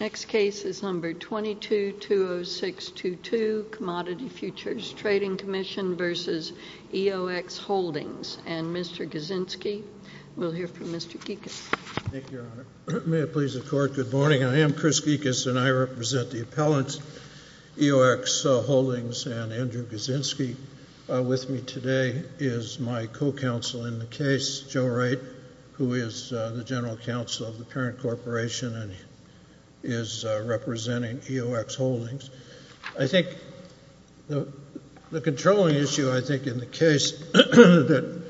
Next case is number 22-20622, Commodity Futures Trading Commission v. EOX Holdings, and Mr. Kaczynski will hear from Mr. Geekus. Thank you, Your Honor. May it please the Court, good morning, I am Chris Geekus and I represent the appellant EOX Holdings, and Andrew Kaczynski with me today is my co-counsel in the case, Joe Wright, who is the general counsel of the parent corporation and is representing EOX Holdings. I think the controlling issue, I think, in the case that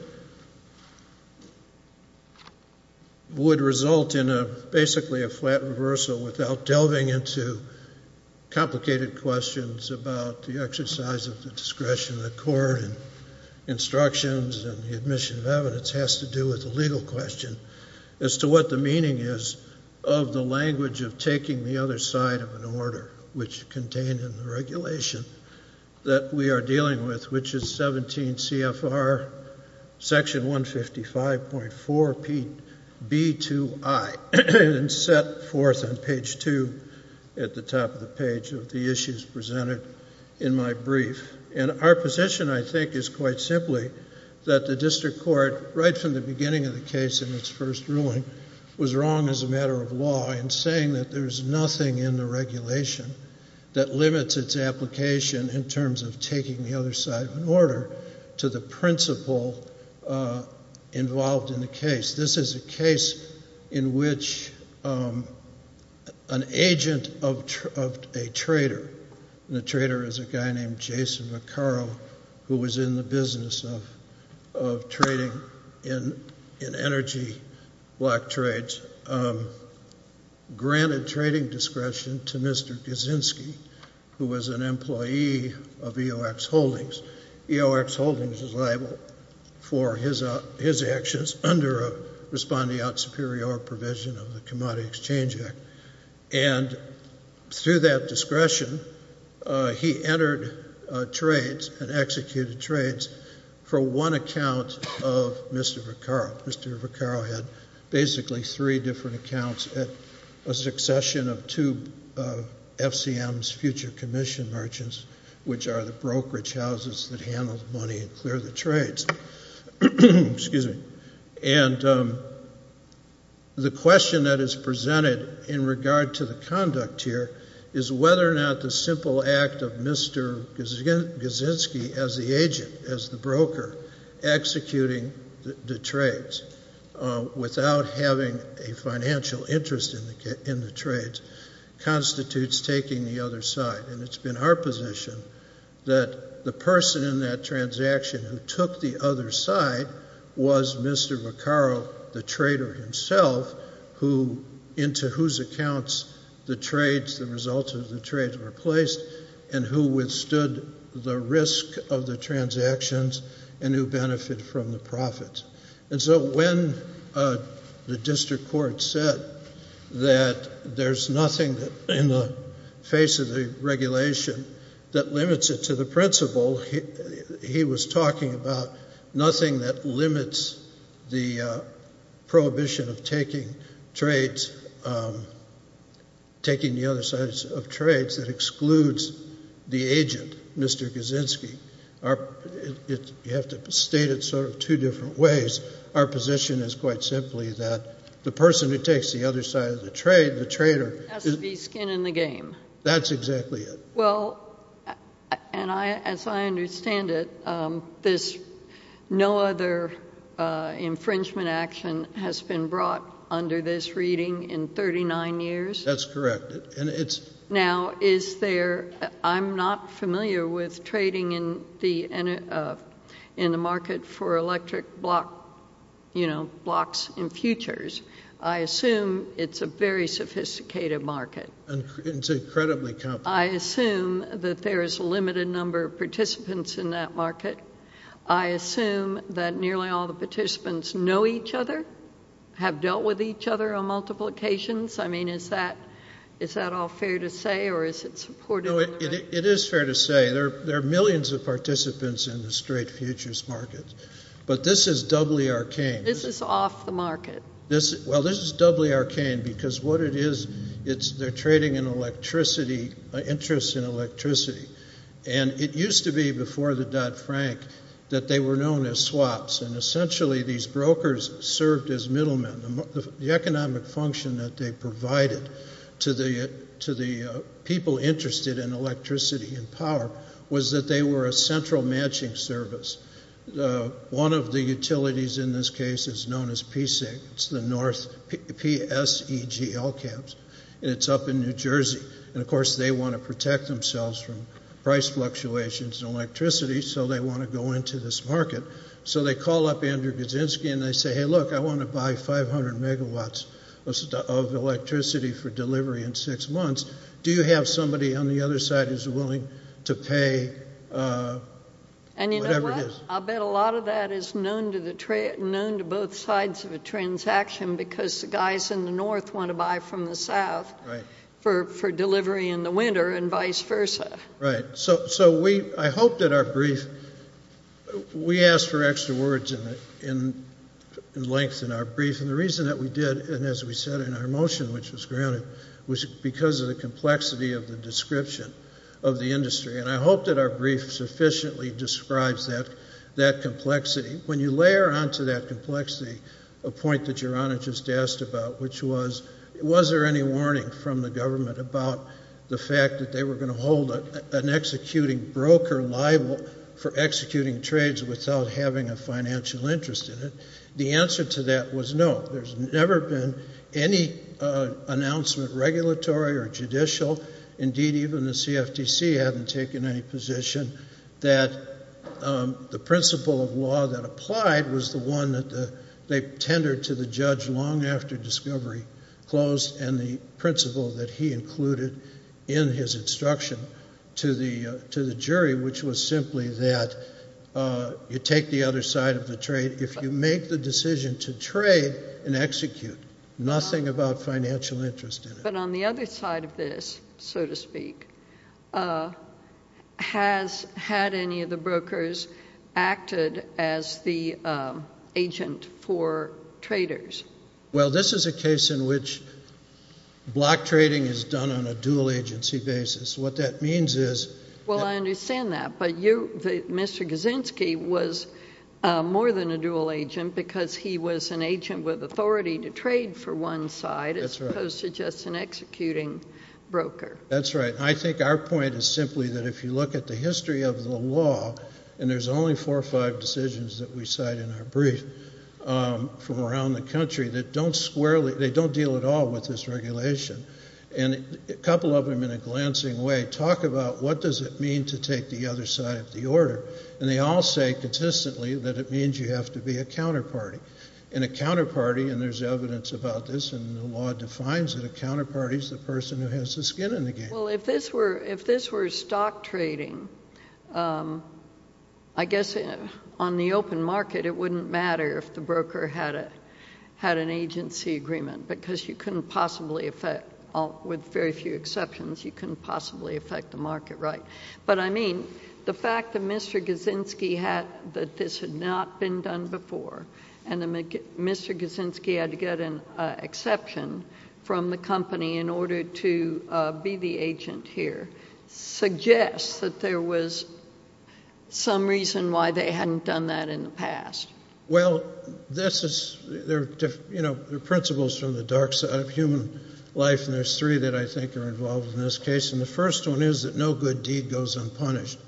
would result in basically a flat reversal without delving into complicated questions about the exercise of the discretion of the court and instructions and the admission of evidence has to do with the legal question as to what the meaning is of the language of taking the other side of an order, which I set forth on page 2 at the top of the page of the issues presented in my brief. And our position, I think, is quite simply that the district court, right from the beginning of the case in its first ruling, was wrong as a matter of law in saying that there is nothing in the regulation that limits its application in terms of taking the other side of an order to the principle involved in the case. This is a case in which an agent of a trader, and the trader is a guy named Jason Maccaro who was in the business of trading in energy block trades, granted trading discretion to Mr. Kaczynski, who was an employee of EOX Holdings. EOX Holdings is liable for his actions under a respondeat superior provision of the Commodity Exchange Act. And through that discretion, he entered trades and executed trades for one account of Mr. Maccaro. Mr. Maccaro had basically three different accounts at a succession of two FCMs, future commission merchants, which are the brokerage houses that handle money and clear the trades. And the question that is presented in regard to the conduct here is whether or not the simple act of Mr. Kaczynski as the agent, as the broker, executing the trades without having a financial interest in the trades constitutes taking the other side. And it's been our position that the person in that transaction who took the other side was Mr. Maccaro, the trader himself, into whose accounts the results of the trades were placed and who withstood the risk of the transactions and who benefited from the profits. And so when the district court said that there's nothing in the face of the regulation that limits it to the principal, he was talking about nothing that limits the prohibition of taking the other side of trades that excludes the agent, Mr. Kaczynski. You have to state it sort of two different ways. Our position is quite simply that the person who takes the other side of the trade, the trader— Has to be skin in the game. That's exactly it. Well, and as I understand it, no other infringement action has been brought under this reading in 39 years? That's correct. Now, I'm not familiar with trading in the market for electric blocks and futures. I assume it's a very sophisticated market. It's incredibly complex. I assume that there is a limited number of participants in that market. I assume that nearly all the participants know each other, have dealt with each other on multiple occasions. I mean, is that all fair to say, or is it supported— No, it is fair to say. There are millions of participants in the straight futures market, but this is doubly arcane. This is off the market. Well, this is doubly arcane because what it is, it's their trading in electricity, interest in electricity. And it used to be before the Dodd-Frank that they were known as swaps, and essentially these brokers served as middlemen. The economic function that they provided to the people interested in electricity and power was that they were a central matching service. One of the utilities in this case is known as PSEG. It's the north, P-S-E-G-L camps, and it's up in New Jersey. And, of course, they want to protect themselves from price fluctuations in electricity, so they want to go into this market. So they call up Andrew Kaczynski and they say, hey, look, I want to buy 500 megawatts of electricity for delivery in six months. Do you have somebody on the other side who's willing to pay whatever it is? And you know what? I'll bet a lot of that is known to both sides of a transaction because the guys in the north want to buy from the south for delivery in the winter and vice versa. Right. So I hope that our brief, we asked for extra words in length in our brief, and the reason that we did, and as we said in our motion which was granted, was because of the complexity of the description of the industry. And I hope that our brief sufficiently describes that complexity. When you layer onto that complexity a point that Your Honor just asked about, which was, was there any warning from the government about the fact that they were going to hold an executing broker liable for executing trades without having a financial interest in it, the answer to that was no. There's never been any announcement, regulatory or judicial, indeed even the CFTC hadn't taken any position that the principle of law that applied was the one that they tendered to the judge long after discovery closed and the principle that he included in his instruction to the jury, which was simply that you take the other side of the trade. If you make the decision to trade and execute, nothing about financial interest in it. But on the other side of this, so to speak, has had any of the brokers acted as the agent for traders? Well, this is a case in which block trading is done on a dual agency basis. What that means is that Well, I understand that, but you, Mr. Gazinsky, was more than a dual agent because he was an agent with authority to trade for one side as opposed to just an executing broker. That's right. I think our point is simply that if you look at the history of the law, and there's only four or five decisions that we cite in our brief from around the country that don't squarely, they don't deal at all with this regulation, and a couple of them in a glancing way talk about what does it mean to take the other side of the order, and they all say consistently that it means you have to be a counterparty. And a counterparty, and there's evidence about this, and the law defines that a counterparty is the person who has the skin in the game. Well, if this were stock trading, I guess on the open market it wouldn't matter if the broker had an agency agreement because you couldn't possibly affect, with very few exceptions, you couldn't possibly affect the market, right? But, I mean, the fact that Mr. Gazinsky had that this had not been done before and that Mr. Gazinsky had to get an exception from the company in order to be the agent here suggests that there was some reason why they hadn't done that in the past. Well, there are principles from the dark side of human life, and there's three that I think are involved in this case, and the first one is that no good deed goes unpunished.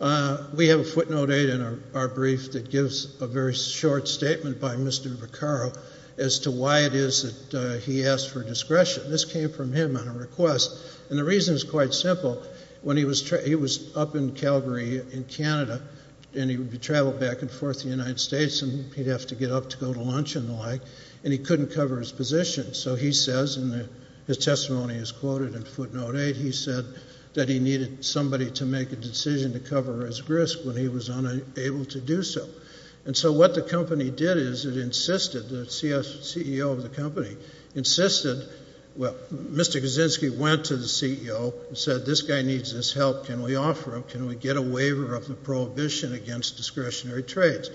We have a footnote 8 in our brief that gives a very short statement by Mr. Vercaro as to why it is that he asked for discretion. This came from him on a request, and the reason is quite simple. He was up in Calgary in Canada, and he would travel back and forth to the United States, and he'd have to get up to go to lunch and the like, and he couldn't cover his position. So he says, and his testimony is quoted in footnote 8, he said that he needed somebody to make a decision to cover his risk when he was unable to do so. And so what the company did is it insisted, the CEO of the company, insisted, well, Mr. Gazinsky went to the CEO and said, This guy needs this help. Can we offer him? Can we get a waiver of the prohibition against discretionary trades?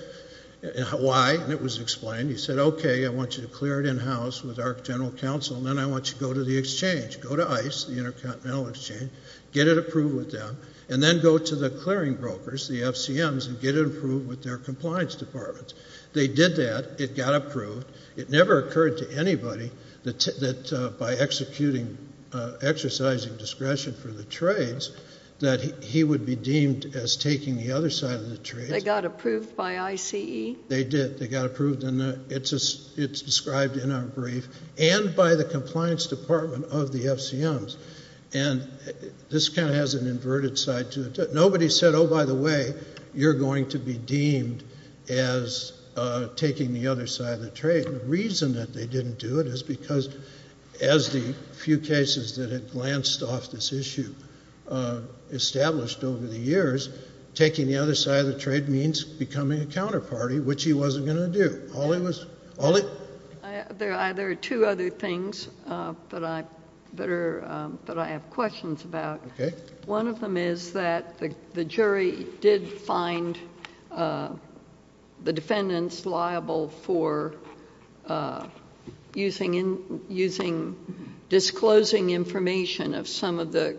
Why? And it was explained. He said, Okay, I want you to clear it in-house with our general counsel, and then I want you to go to the exchange. Go to ICE, the Intercontinental Exchange, get it approved with them, and then go to the clearing brokers, the FCMs, and get it approved with their compliance departments. They did that. It got approved. It never occurred to anybody that by executing, exercising discretion for the trades, that he would be deemed as taking the other side of the trade. They got approved by ICE? They did. They got approved, and it's described in our brief, and by the compliance department of the FCMs. And this kind of has an inverted side to it. Nobody said, Oh, by the way, you're going to be deemed as taking the other side of the trade. The reason that they didn't do it is because, as the few cases that had glanced off this issue established over the years, taking the other side of the trade means becoming a counterparty, which he wasn't going to do. There are two other things that I have questions about. Okay. One of them is that the jury did find the defendants liable for using disclosing information of some of the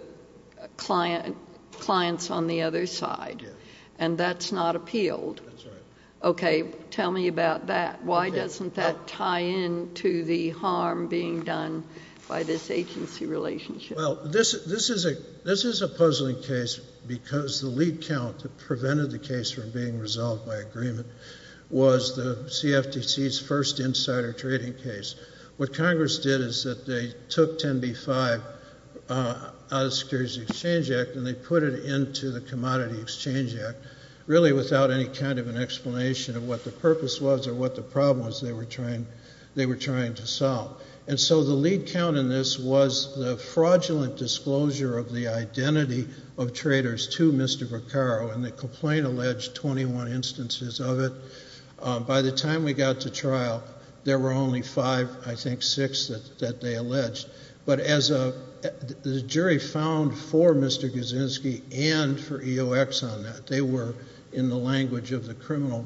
clients on the other side, and that's not appealed. That's right. Okay. Tell me about that. Why doesn't that tie in to the harm being done by this agency relationship? Well, this is a puzzling case because the lead count that prevented the case from being resolved by agreement was the CFTC's first insider trading case. What Congress did is that they took 10b-5 out of the Securities and Exchange Act and they put it into the Commodity Exchange Act, really without any kind of an explanation of what the purpose was or what the problem was they were trying to solve. And so the lead count in this was the fraudulent disclosure of the identity of traders to Mr. Vercaro, and the complaint alleged 21 instances of it. By the time we got to trial, there were only five, I think six, that they alleged. But as the jury found for Mr. Kaczynski and for EOX on that, they were in the language of the criminal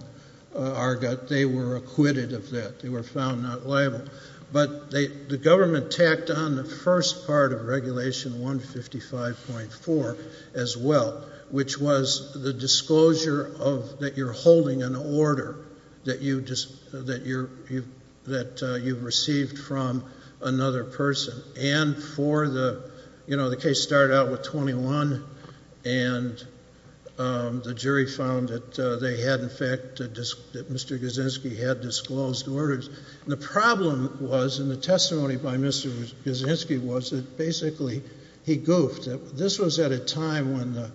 argot, they were acquitted of that. They were found not liable. But the government tacked on the first part of Regulation 155.4 as well, which was the disclosure that you're holding an order that you've received from another person. And for the, you know, the case started out with 21, and the jury found that they had, in fact, that Mr. Kaczynski had disclosed orders. And the problem was, and the testimony by Mr. Kaczynski was, that basically he goofed. This was at a time when the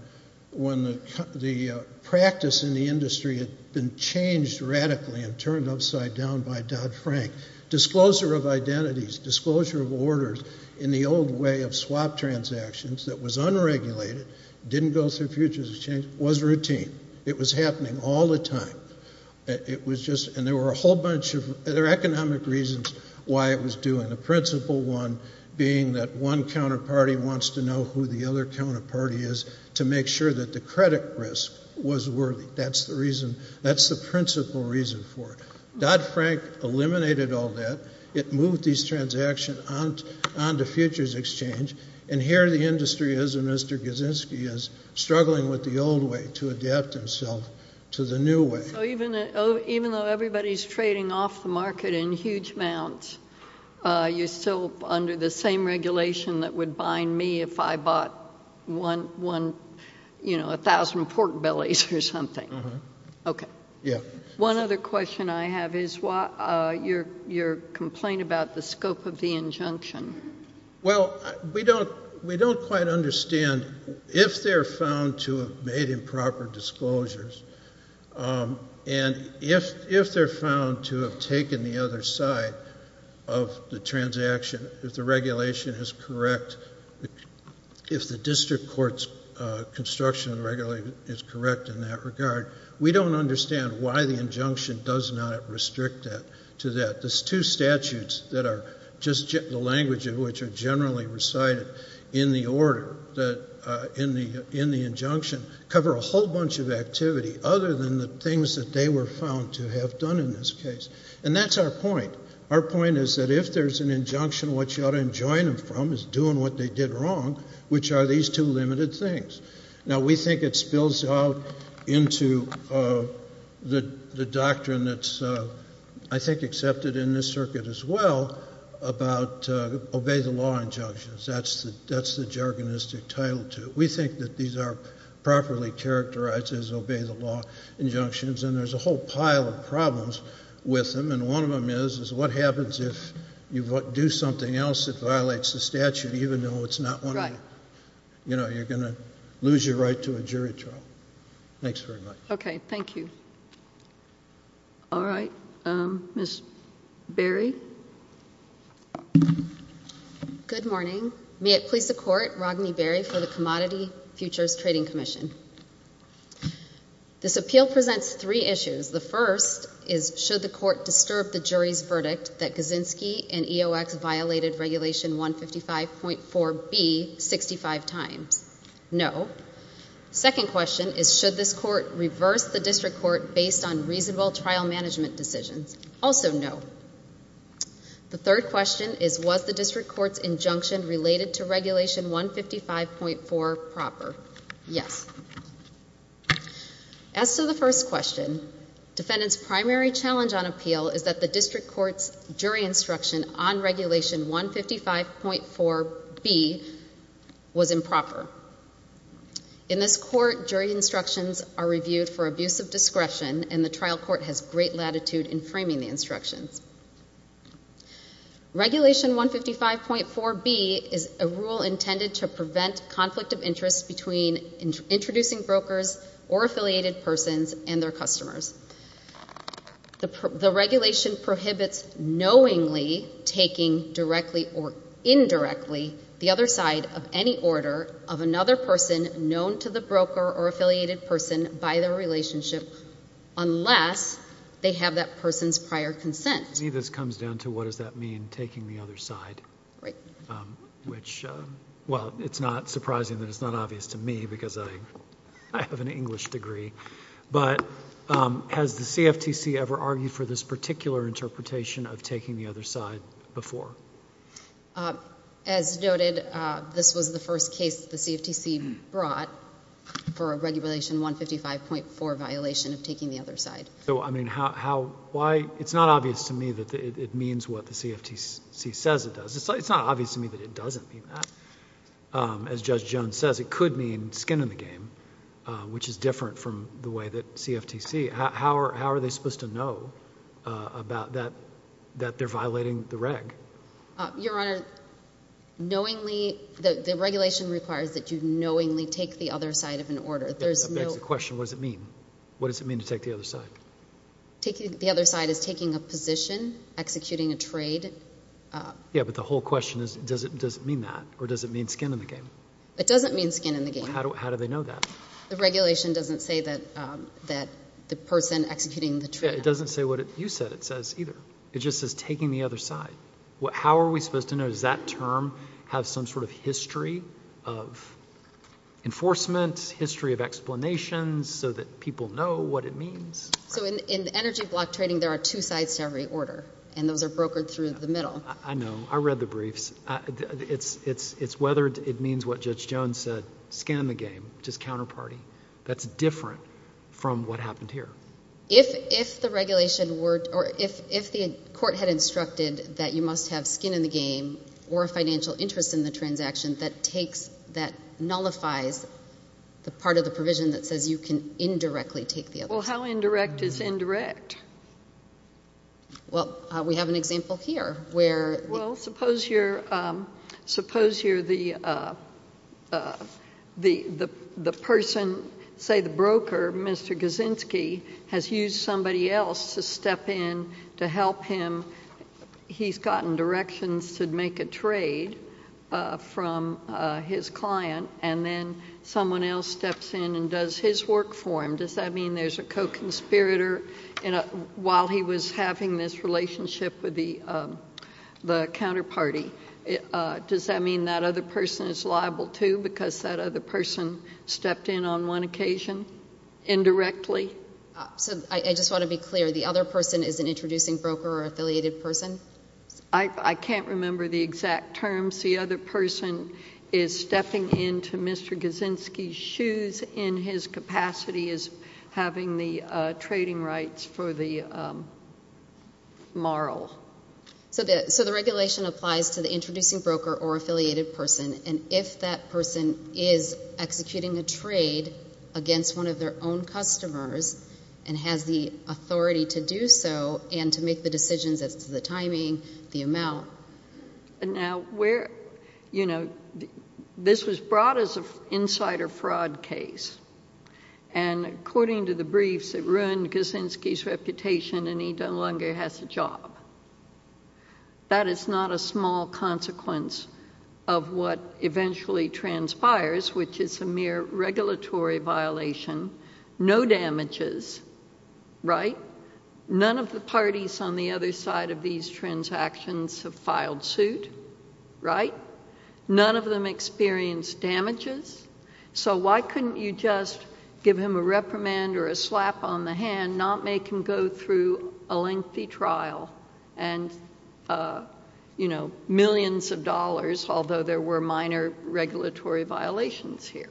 practice in the industry had been changed radically and turned upside down by Dodd-Frank. Disclosure of identities, disclosure of orders, in the old way of swap transactions that was unregulated, didn't go through futures exchange, was routine. It was happening all the time. It was just, and there were a whole bunch of other economic reasons why it was doing, the principal one being that one counterparty wants to know who the other counterparty is to make sure that the credit risk was worthy. That's the reason, that's the principal reason for it. Dodd-Frank eliminated all that. It moved these transactions on to futures exchange. And here the industry is, and Mr. Kaczynski is, struggling with the old way to adapt himself to the new way. So even though everybody's trading off the market in huge amounts, you're still under the same regulation that would bind me if I bought one, you know, 1,000 pork bellies or something. Okay. Yeah. One other question I have is your complaint about the scope of the injunction. Well, we don't quite understand. If they're found to have made improper disclosures, and if they're found to have taken the other side of the transaction, if the regulation is correct, if the district court's construction regulation is correct in that regard, we don't understand why the injunction does not restrict that to that. The two statutes that are just the language of which are generally recited in the order, in the injunction, cover a whole bunch of activity other than the things that they were found to have done in this case. And that's our point. Our point is that if there's an injunction, what you ought to enjoin them from is doing what they did wrong, which are these two limited things. Now, we think it spills out into the doctrine that's, I think, accepted in this circuit as well, about obey the law injunctions. That's the jargonistic title to it. We think that these are properly characterized as obey the law injunctions, and there's a whole pile of problems with them. And one of them is, is what happens if you do something else that violates the statute, even though it's not one of the, you know, you're going to lose your right to a jury trial. Thanks very much. Okay. Thank you. All right. Ms. Berry. Good morning. May it please the Court, Ragney Berry for the Commodity Futures Trading Commission. This appeal presents three issues. The first is, should the court disturb the jury's verdict that Kaczynski and EOX violated Regulation 155.4B 65 times? No. Second question is, should this court reverse the district court based on reasonable trial management decisions? Also no. The third question is, was the district court's injunction related to Regulation 155.4 proper? Yes. As to the first question, defendant's primary challenge on appeal is that the district court's jury instruction on Regulation 155.4B was improper. In this court, jury instructions are reviewed for abuse of discretion and the trial court has great latitude in framing the instructions. Regulation 155.4B is a rule intended to prevent conflict of interest between introducing brokers or affiliated persons and their customers. The regulation prohibits knowingly taking directly or indirectly the other side of any order of another person known to the broker or affiliated person by their relationship unless they have that person's prior consent. To me this comes down to what does that mean, taking the other side? Right. Which, well, it's not surprising that it's not obvious to me because I have an English degree, but has the CFTC ever argued for this particular interpretation of taking the other side before? As noted, this was the first case the CFTC brought for a Regulation 155.4 violation of taking the other side. So, I mean, how... why... it's not obvious to me that it means what the CFTC says it does. It's not obvious to me that it doesn't mean that. As Judge Jones says, it could mean skin in the game, which is different from the way that CFTC... how are they supposed to know about that... that they're violating the Reg? Your Honor, knowingly... the regulation requires that you knowingly take the other side of an order. There's no... That begs the question, what does it mean? What does it mean to take the other side? Taking the other side is taking a position, executing a trade. Yeah, but the whole question is does it mean that or does it mean skin in the game? It doesn't mean skin in the game. How do they know that? The regulation doesn't say that the person executing the trade... Yeah, it doesn't say what you said it says either. It just says taking the other side. How are we supposed to know? Does that term have some sort of history of enforcement, history of explanations so that people know what it means? So, in energy block trading, there are two sides to every order, and those are brokered through the middle. I know. I read the briefs. It's whether... If it means what Judge Jones said, skin in the game, which is counterparty, that's different from what happened here. If the regulation were... or if the court had instructed that you must have skin in the game or a financial interest in the transaction that nullifies the part of the provision that says you can indirectly take the other side... Well, we have an example here where... Well, suppose you're the person... say the broker, Mr. Gazinsky, has used somebody else to step in to help him. He's gotten directions to make a trade from his client, and then someone else steps in and does his work for him. Does that mean there's a co-conspirator while he was having this relationship with the counterparty? Does that mean that other person is liable, too, because that other person stepped in on one occasion indirectly? I just want to be clear. The other person is an introducing broker or affiliated person? I can't remember the exact terms. The other person is stepping into Mr. Gazinsky's shoes in his capacity as having the trading rights for the moral. So the regulation applies to the introducing broker or affiliated person, and if that person is executing a trade against one of their own customers and has the authority to do so and to make the decisions as to the timing, the amount... This was brought as an insider fraud case, and according to the briefs, it ruined Gazinsky's reputation and he no longer has a job. That is not a small consequence of what eventually transpires, which is a mere regulatory violation. No damages, right? None of the parties on the other side of these transactions have filed suit, right? None of them experienced damages. So why couldn't you just give him a reprimand or a slap on the hand, not make him go through a lengthy trial and millions of dollars, although there were minor regulatory violations here?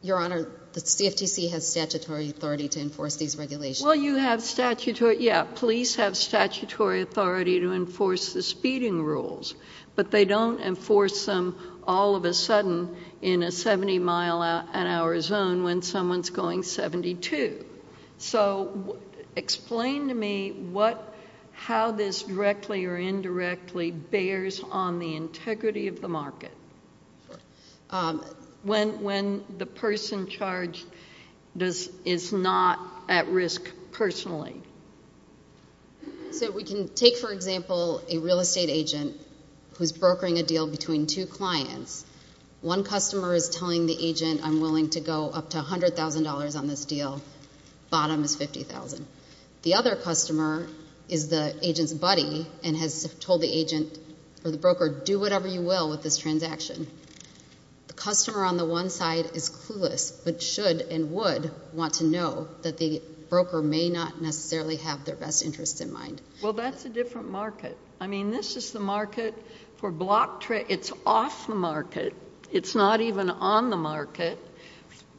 Your Honor, the CFTC has statutory authority to enforce these regulations. Well, you have statutory... Yeah, police have statutory authority to enforce the speeding rules, but they don't enforce them all of a sudden in a 70-mile-an-hour zone when someone's going 72. So explain to me how this directly or indirectly bears on the integrity of the market. When the person charged is not at risk personally. So we can take, for example, a real estate agent who's brokering a deal between two clients. One customer is telling the agent, I'm willing to go up to $100,000 on this deal, bottom is $50,000. The other customer is the agent's buddy and has told the agent or the broker, do whatever you will with this transaction. The customer on the one side is clueless but should and would want to know that the broker may not necessarily have their best interests in mind. Well, that's a different market. I mean, this is the market for block trade. It's off the market. It's not even on the market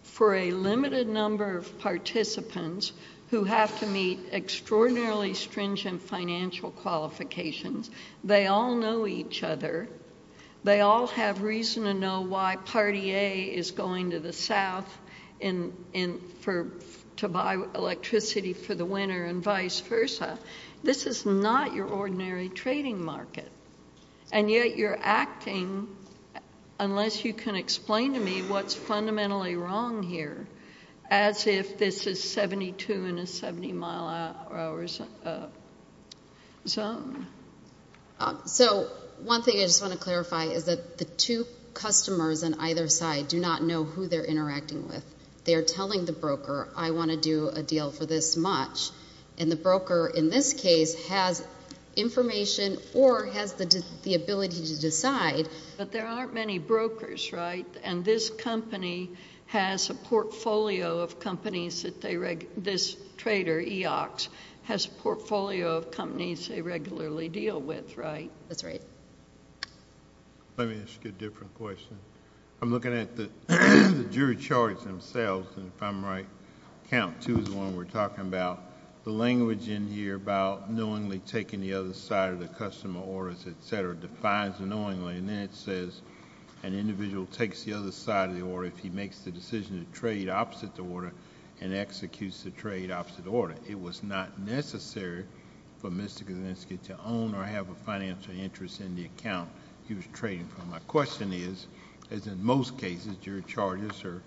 for a limited number of participants who have to meet extraordinarily stringent financial qualifications. They all know each other. They all have reason to know why party A is going to the south to buy electricity for the winter and vice versa. This is not your ordinary trading market. And yet you're acting, unless you can explain to me what's fundamentally wrong here, as if this is 72 in a 70-mile-an-hour zone. So one thing I just want to clarify is that the two customers on either side do not know who they're interacting with. They are telling the broker, I want to do a deal for this much, and the broker in this case has information or has the ability to decide. But there aren't many brokers, right? And this company has a portfolio of companies that they regularly deal with. This trader, EOX, has a portfolio of companies they regularly deal with, right? That's right. Let me ask you a different question. I'm looking at the jury charts themselves, and if I'm right, count two is the one we're talking about. The language in here about knowingly taking the other side of the customer orders, et cetera, defines knowingly. And then it says, an individual takes the other side of the order if he makes the decision to trade opposite the order and executes the trade opposite the order. It was not necessary for Mr. Kazinski to own or have a financial interest in the account he was trading from. My question is, as in most cases, jury charges are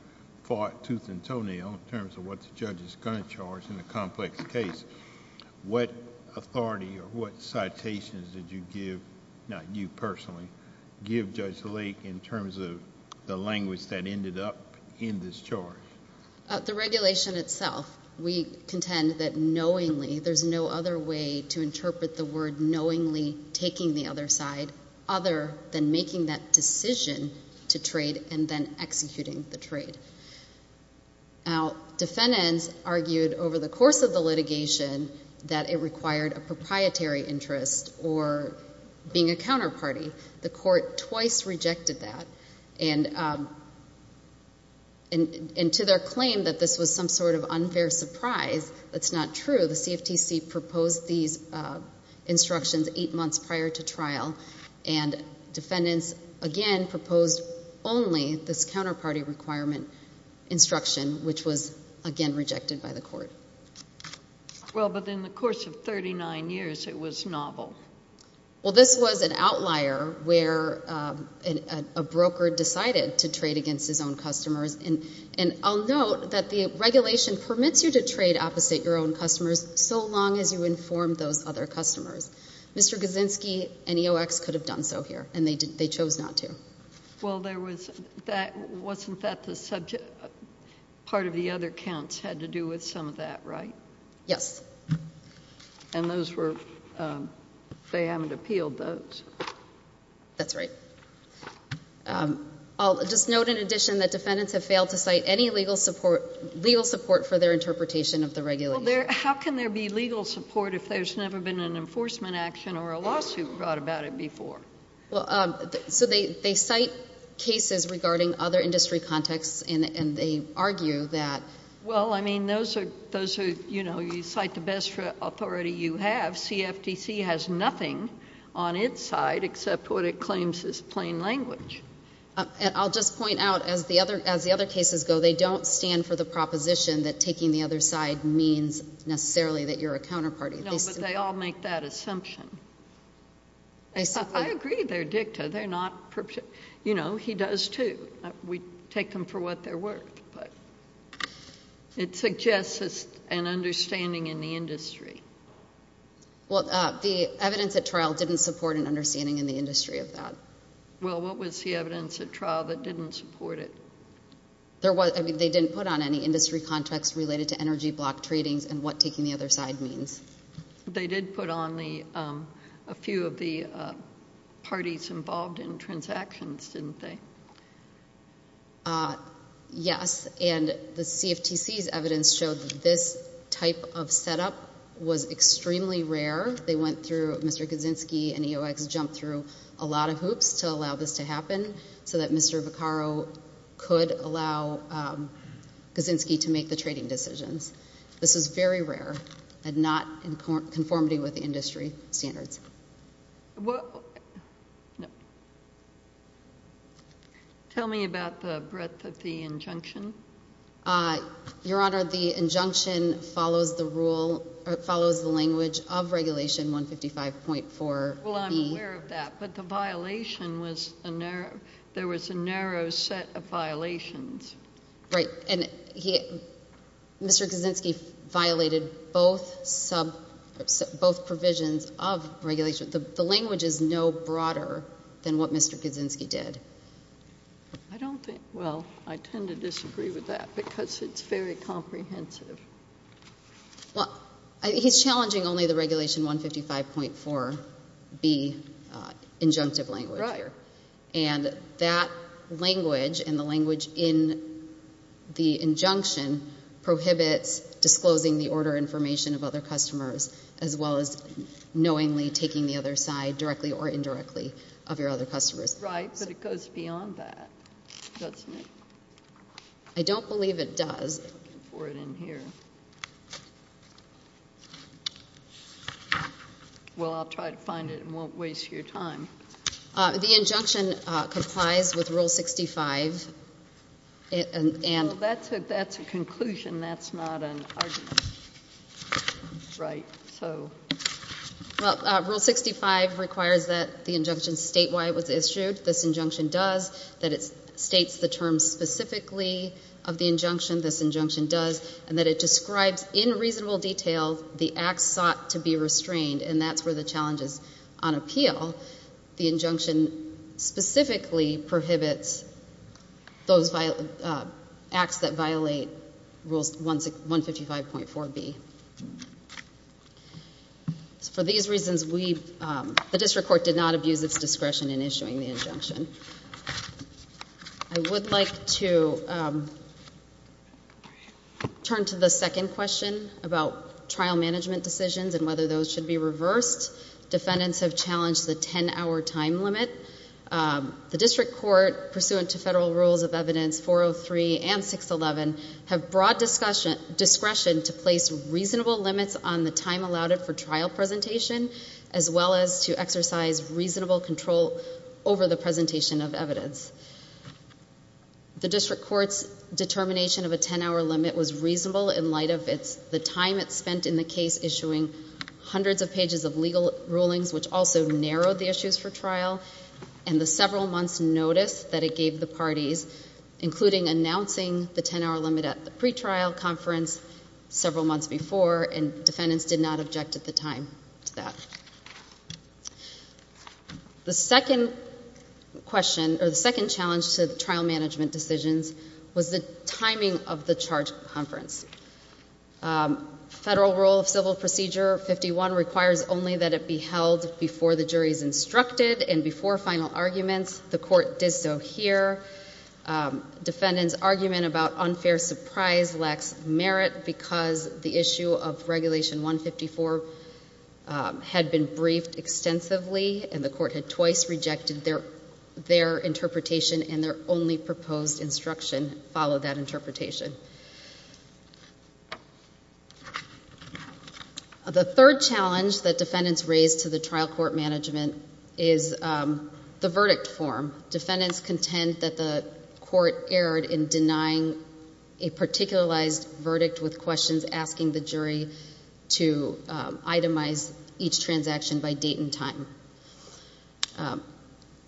fought tooth and toenail in terms of what the judge is going to charge in a complex case. What authority or what citations did you give, not you personally, give Judge Lake in terms of the language that ended up in this charge? The regulation itself, we contend that knowingly, there's no other way to interpret the word knowingly taking the other side other than making that decision to trade and then executing the trade. Now, defendants argued over the course of the litigation that it required a proprietary interest or being a counterparty. The court twice rejected that. And to their claim that this was some sort of unfair surprise, that's not true. The CFTC proposed these instructions eight months prior to trial, and defendants, again, proposed only this counterparty requirement instruction, which was, again, rejected by the court. Well, but in the course of 39 years, it was novel. Well, this was an outlier where a broker decided to trade against his own customers. And I'll note that the regulation permits you to trade opposite your own customers so long as you inform those other customers. Mr. Gazinsky and EOX could have done so here, and they chose not to. Well, wasn't that part of the other counts had to do with some of that, right? Yes. And they haven't appealed those? That's right. I'll just note in addition that defendants have failed to cite any legal support for their interpretation of the regulation. Well, how can there be legal support if there's never been an enforcement action or a lawsuit brought about it before? So they cite cases regarding other industry contexts, and they argue that. Well, I mean, those are, you know, you cite the best authority you have. CFTC has nothing on its side except what it claims is plain language. I'll just point out, as the other cases go, they don't stand for the proposition that taking the other side means necessarily that you're a counterparty. No, but they all make that assumption. I agree they're dicta. You know, he does too. We take them for what they're worth. It suggests an understanding in the industry. Well, the evidence at trial didn't support an understanding in the industry of that. Well, what was the evidence at trial that didn't support it? I mean, they didn't put on any industry context related to energy block tradings and what taking the other side means. They did put on a few of the parties involved in transactions, didn't they? Yes, and the CFTC's evidence showed that this type of setup was extremely rare. They went through Mr. Kaczynski and EOX jumped through a lot of hoops to allow this to happen so that Mr. Vaccaro could allow Kaczynski to make the trading decisions. This is very rare and not in conformity with industry standards. Tell me about the breadth of the injunction. Your Honor, the injunction follows the language of Regulation 155.4. Well, I'm aware of that, but the violation was a narrow set of violations. Right, and Mr. Kaczynski violated both provisions of regulation. The language is no broader than what Mr. Kaczynski did. I don't think, well, I tend to disagree with that because it's very comprehensive. Well, he's challenging only the Regulation 155.4B injunctive language here, and that language and the language in the injunction prohibits disclosing the order information of other customers as well as knowingly taking the other side directly or indirectly of your other customers. Right, but it goes beyond that, doesn't it? I don't believe it does. I'm looking for it in here. Well, I'll try to find it and won't waste your time. The injunction complies with Rule 65. That's a conclusion. That's not an argument. Right, so. Well, Rule 65 requires that the injunction statewide was issued. This injunction does, that it states the terms specifically of the injunction. This injunction does, and that it describes in reasonable detail the acts sought to be restrained, and that's where the challenge is on appeal. The injunction specifically prohibits those acts that violate Rules 155.4B. For these reasons, the district court did not abuse its discretion in issuing the injunction. I would like to turn to the second question about trial management decisions and whether those should be reversed. Defendants have challenged the 10-hour time limit. The district court, pursuant to Federal Rules of Evidence 403 and 611, have broad discretion to place reasonable limits on the time allowed for trial presentation as well as to exercise reasonable control over the presentation of evidence. The district court's determination of a 10-hour limit was reasonable in light of the time it spent in the case issuing hundreds of pages of legal rulings, which also narrowed the issues for trial, and the several months' notice that it gave the parties, including announcing the 10-hour limit at the pretrial conference several months before, and defendants did not object at the time to that. The second question, or the second challenge to trial management decisions, was the timing of the charge conference. Federal Rule of Civil Procedure 51 requires only that it be held before the jury is instructed and before final arguments. The court did so here. Defendants' argument about unfair surprise lacks merit because the issue of Regulation 154 had been briefed extensively, and the court had twice rejected their interpretation and their only proposed instruction followed that interpretation. The third challenge that defendants raised to the trial court management is the verdict form. Defendants contend that the court erred in denying a particularized verdict with questions asking the jury to itemize each transaction by date and time.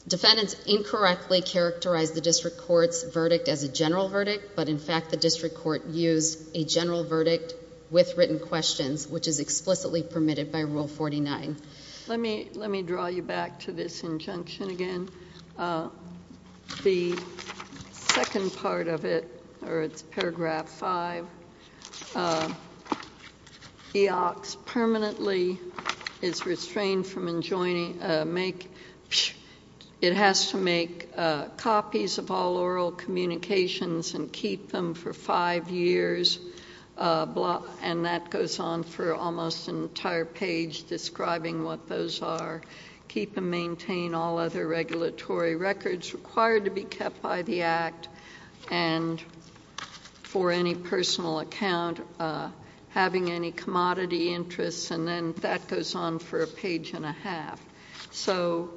Defendants incorrectly characterized the district court's verdict as a general verdict, but in fact the district court used a general verdict with written questions, which is explicitly permitted by Rule 49. Let me draw you back to this injunction again. The second part of it, or it's Paragraph 5, where EOCS permanently is restrained from enjoining, make, it has to make copies of all oral communications and keep them for five years, and that goes on for almost an entire page describing what those are, keep and maintain all other regulatory records required to be kept by the Act, and for any personal account, having any commodity interests, and then that goes on for a page and a half. So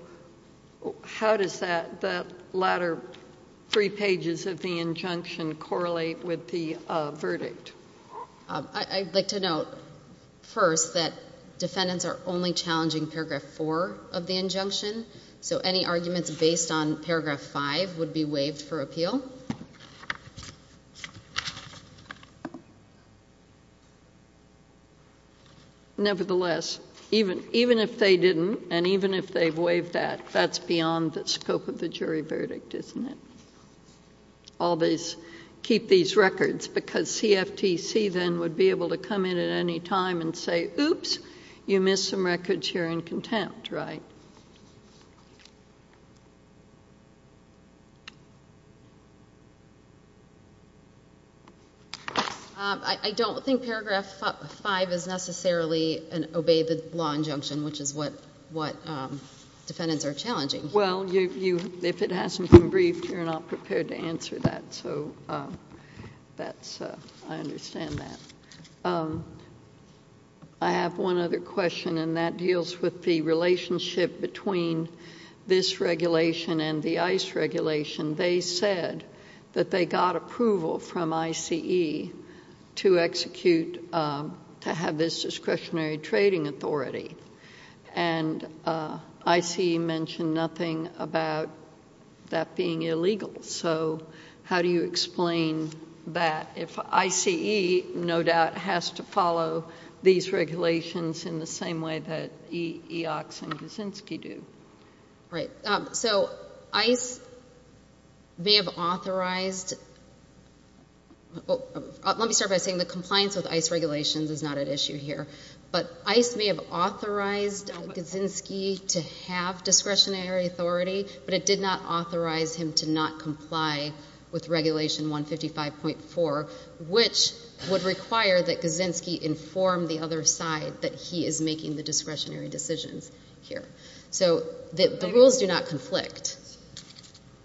how does that latter three pages of the injunction correlate with the verdict? I'd like to note first that defendants are only challenging Paragraph 4 of the injunction, so any arguments based on Paragraph 5 would be waived for appeal. Nevertheless, even if they didn't and even if they waived that, that's beyond the scope of the jury verdict, isn't it? All these keep these records because CFTC then would be able to come in at any time and say, oops, you missed some records here in contempt, right? I don't think Paragraph 5 is necessarily an obey the law injunction, which is what defendants are challenging. Well, if it hasn't been briefed, you're not prepared to answer that, so I understand that. I have one other question, and that deals with the relationship between this regulation and the ICE regulation. They said that they got approval from ICE to have this discretionary trading authority, and ICE mentioned nothing about that being illegal. So how do you explain that if ICE no doubt has to follow these regulations in the same way that EOCS and Kuczynski do? Right. So ICE may have authorized – let me start by saying the compliance with ICE regulations is not at issue here, but ICE may have authorized Kuczynski to have discretionary authority, but it did not authorize him to not comply with Regulation 155.4, which would require that Kuczynski inform the other side that he is making the discretionary decisions here. So the rules do not conflict.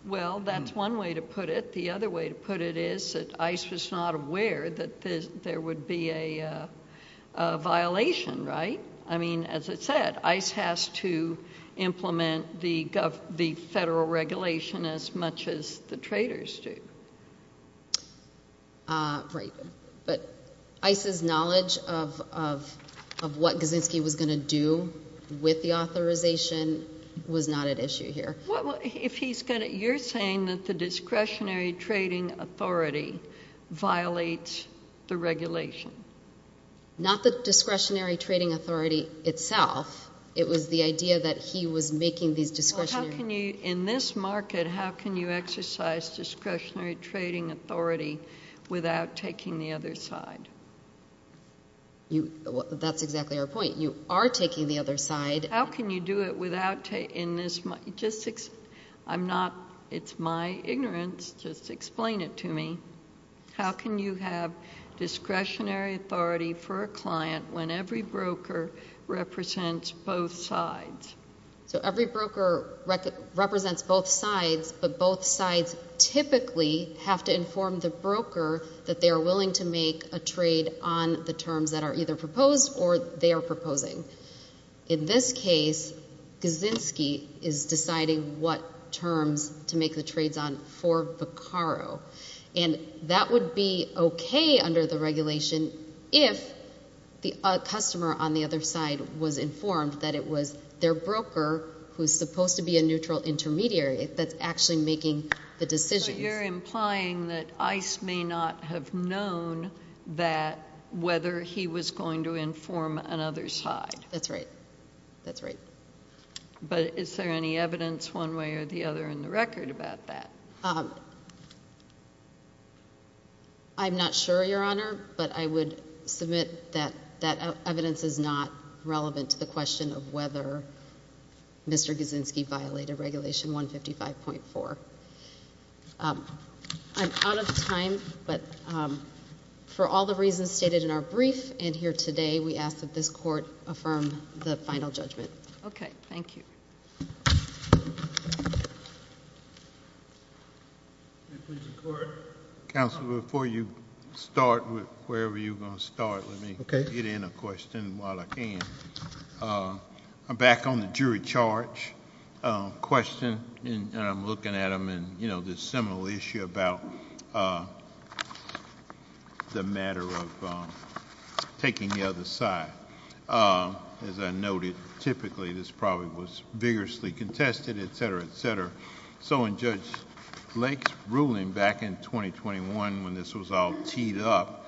Well, that's one way to put it. The other way to put it is that ICE was not aware that there would be a violation, right? I mean, as I said, ICE has to implement the federal regulation as much as the traders do. Right. But ICE's knowledge of what Kuczynski was going to do with the authorization was not at issue here. You're saying that the discretionary trading authority violates the regulation? Not the discretionary trading authority itself. It was the idea that he was making these discretionary – Well, how can you – in this market, how can you exercise discretionary trading authority without taking the other side? That's exactly our point. You are taking the other side. How can you do it without – in this – just – I'm not – it's my ignorance. Just explain it to me. How can you have discretionary authority for a client when every broker represents both sides? So every broker represents both sides, but both sides typically have to inform the broker that they are willing to make a trade on the terms that are either proposed or they are proposing. In this case, Kuczynski is deciding what terms to make the trades on for Vaccaro, and that would be okay under the regulation if the customer on the other side was informed that it was their broker, who is supposed to be a neutral intermediary, that's actually making the decisions. So you're implying that ICE may not have known that – whether he was going to inform another side. That's right. That's right. But is there any evidence one way or the other in the record about that? I'm not sure, Your Honor, but I would submit that that evidence is not relevant to the question of whether Mr. Kuczynski violated Regulation 155.4. I'm out of time, but for all the reasons stated in our brief and here today, we ask that this court affirm the final judgment. Okay. Thank you. Thank you. Counsel, before you start, wherever you're going to start, let me get in a question while I can. I'm back on the jury charge question, and I'm looking at them, and there's a similar issue about the matter of taking the other side. As I noted, typically, this probably was vigorously contested, et cetera, et cetera. So in Judge Lake's ruling back in 2021, when this was all teed up,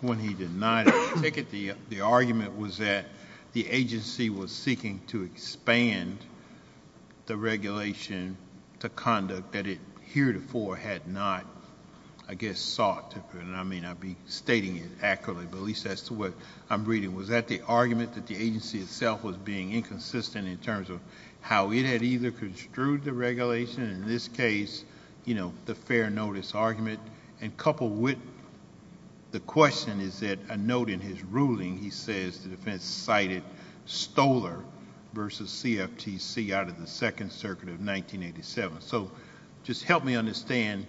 when he denied a ticket, the argument was that the agency was seeking to expand the regulation to conduct that it heretofore had not, I guess, sought. I may not be stating it accurately, but at least as to what I'm reading, was that the argument that the agency itself was being inconsistent in terms of how it had either construed the regulation, in this case, the fair notice argument, and coupled with the question is that a note in his ruling, he says the defense cited Stoler versus CFTC out of the Second Circuit of 1987. So just help me understand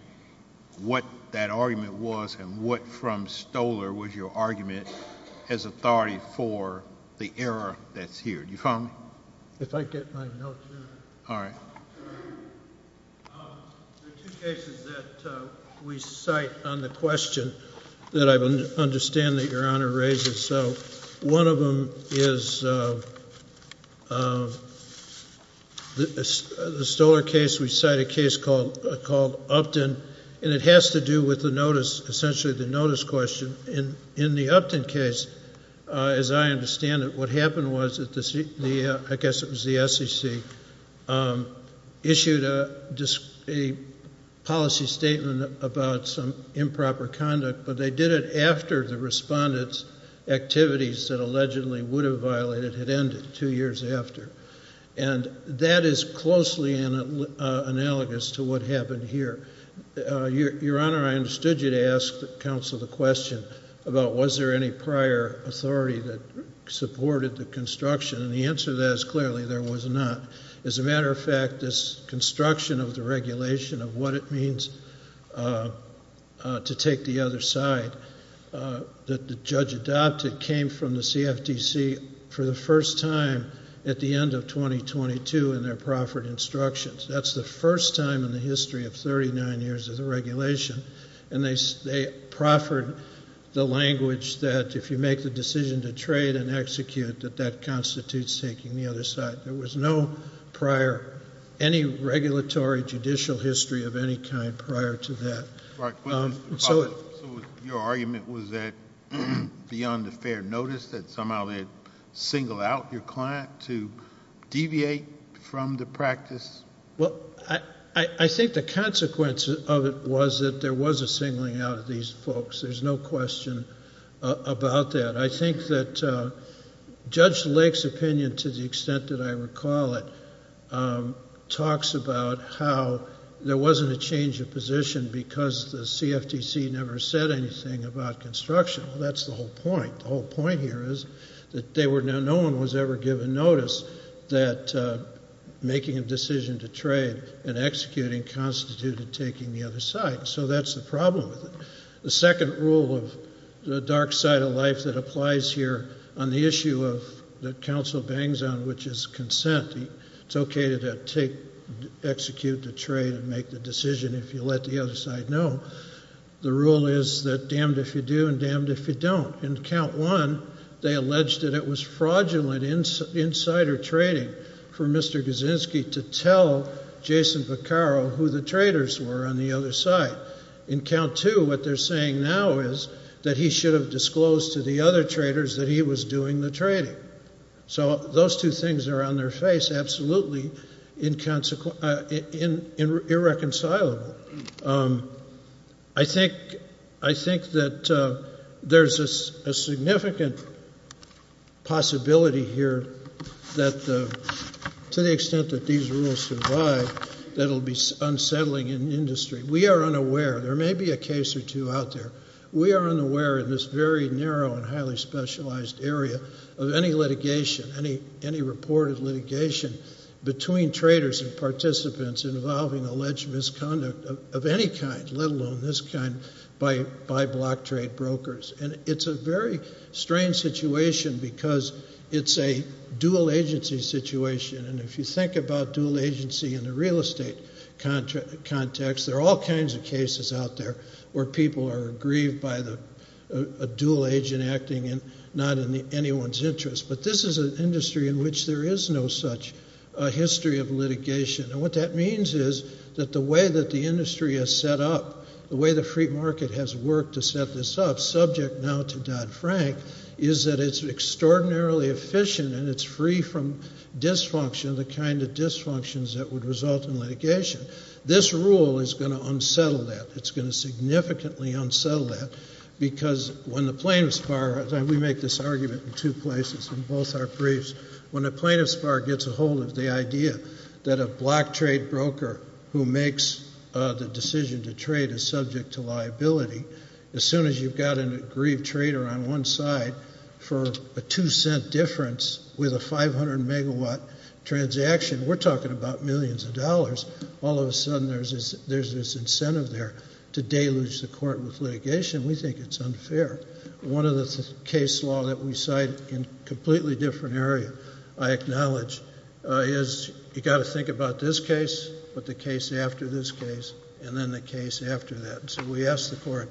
what that argument was, and what from Stoler was your argument as authority for the error that's here. Do you follow me? If I get my notes here. All right. There are two cases that we cite on the question that I understand that Your Honor raises. One of them is the Stoler case. We cite a case called Upton, and it has to do with the notice, essentially the notice question. In the Upton case, as I understand it, what happened was that the, I guess it was the SEC, issued a policy statement about some improper conduct, but they did it after the respondent's activities that allegedly would have violated had ended two years after. And that is closely analogous to what happened here. Your Honor, I understood you to ask the counsel the question about was there any prior authority that supported the construction, and the answer to that is clearly there was not. As a matter of fact, this construction of the regulation of what it means to take the other side that the judge adopted came from the CFTC for the first time at the end of 2022 in their proffered instructions. That's the first time in the history of 39 years of the regulation, and they proffered the language that if you make the decision to trade and execute, that that constitutes taking the other side. There was no prior, any regulatory judicial history of any kind prior to that. Your argument was that beyond a fair notice that somehow they had singled out your client to deviate from the practice? Well, I think the consequence of it was that there was a singling out of these folks. There's no question about that. I think that Judge Lake's opinion, to the extent that I recall it, talks about how there wasn't a change of position because the CFTC never said anything about construction. That's the whole point. The whole point here is that no one was ever given notice that making a decision to trade and executing constituted taking the other side, so that's the problem with it. The second rule of the dark side of life that applies here on the issue of the counsel bangs on, which is consent. It's okay to execute the trade and make the decision if you let the other side know. The rule is that damned if you do and damned if you don't. In count one, they alleged that it was fraudulent insider trading for Mr. Kaczynski to tell Jason Vaccaro who the traders were on the other side. In count two, what they're saying now is that he should have disclosed to the other traders that he was doing the trading. So those two things are on their face, absolutely irreconcilable. I think that there's a significant possibility here that, to the extent that these rules survive, that it will be unsettling in industry. We are unaware. There may be a case or two out there. We are unaware in this very narrow and highly specialized area of any litigation, any reported litigation, between traders and participants involving alleged misconduct of any kind, let alone this kind, by block trade brokers. And it's a very strange situation because it's a dual agency situation, and if you think about dual agency in the real estate context, there are all kinds of cases out there where people are aggrieved by a dual agent acting not in anyone's interest. But this is an industry in which there is no such history of litigation. And what that means is that the way that the industry has set up, the way the free market has worked to set this up, subject now to Dodd-Frank, is that it's extraordinarily efficient and it's free from dysfunction, the kind of dysfunctions that would result in litigation. This rule is going to unsettle that. It's going to significantly unsettle that because when the plaintiff's bar, and we make this argument in two places in both our briefs, when the plaintiff's bar gets a hold of the idea that a block trade broker who makes the decision to trade is subject to liability, as soon as you've got an aggrieved trader on one side for a two-cent difference with a 500-megawatt transaction, we're talking about millions of dollars, all of a sudden there's this incentive there to deluge the court with litigation. We think it's unfair. One of the case law that we cite in a completely different area, I acknowledge, is you've got to think about this case, but the case after this case, and then the case after that. So we ask the court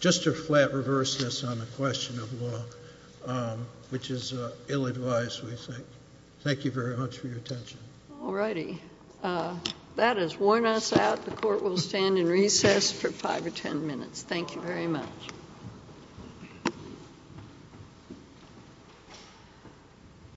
just to flat reverse this on the question of law, which is ill-advised, we think. Thank you very much for your attention. All righty. That has worn us out. The court will stand in recess for five or ten minutes. Thank you very much.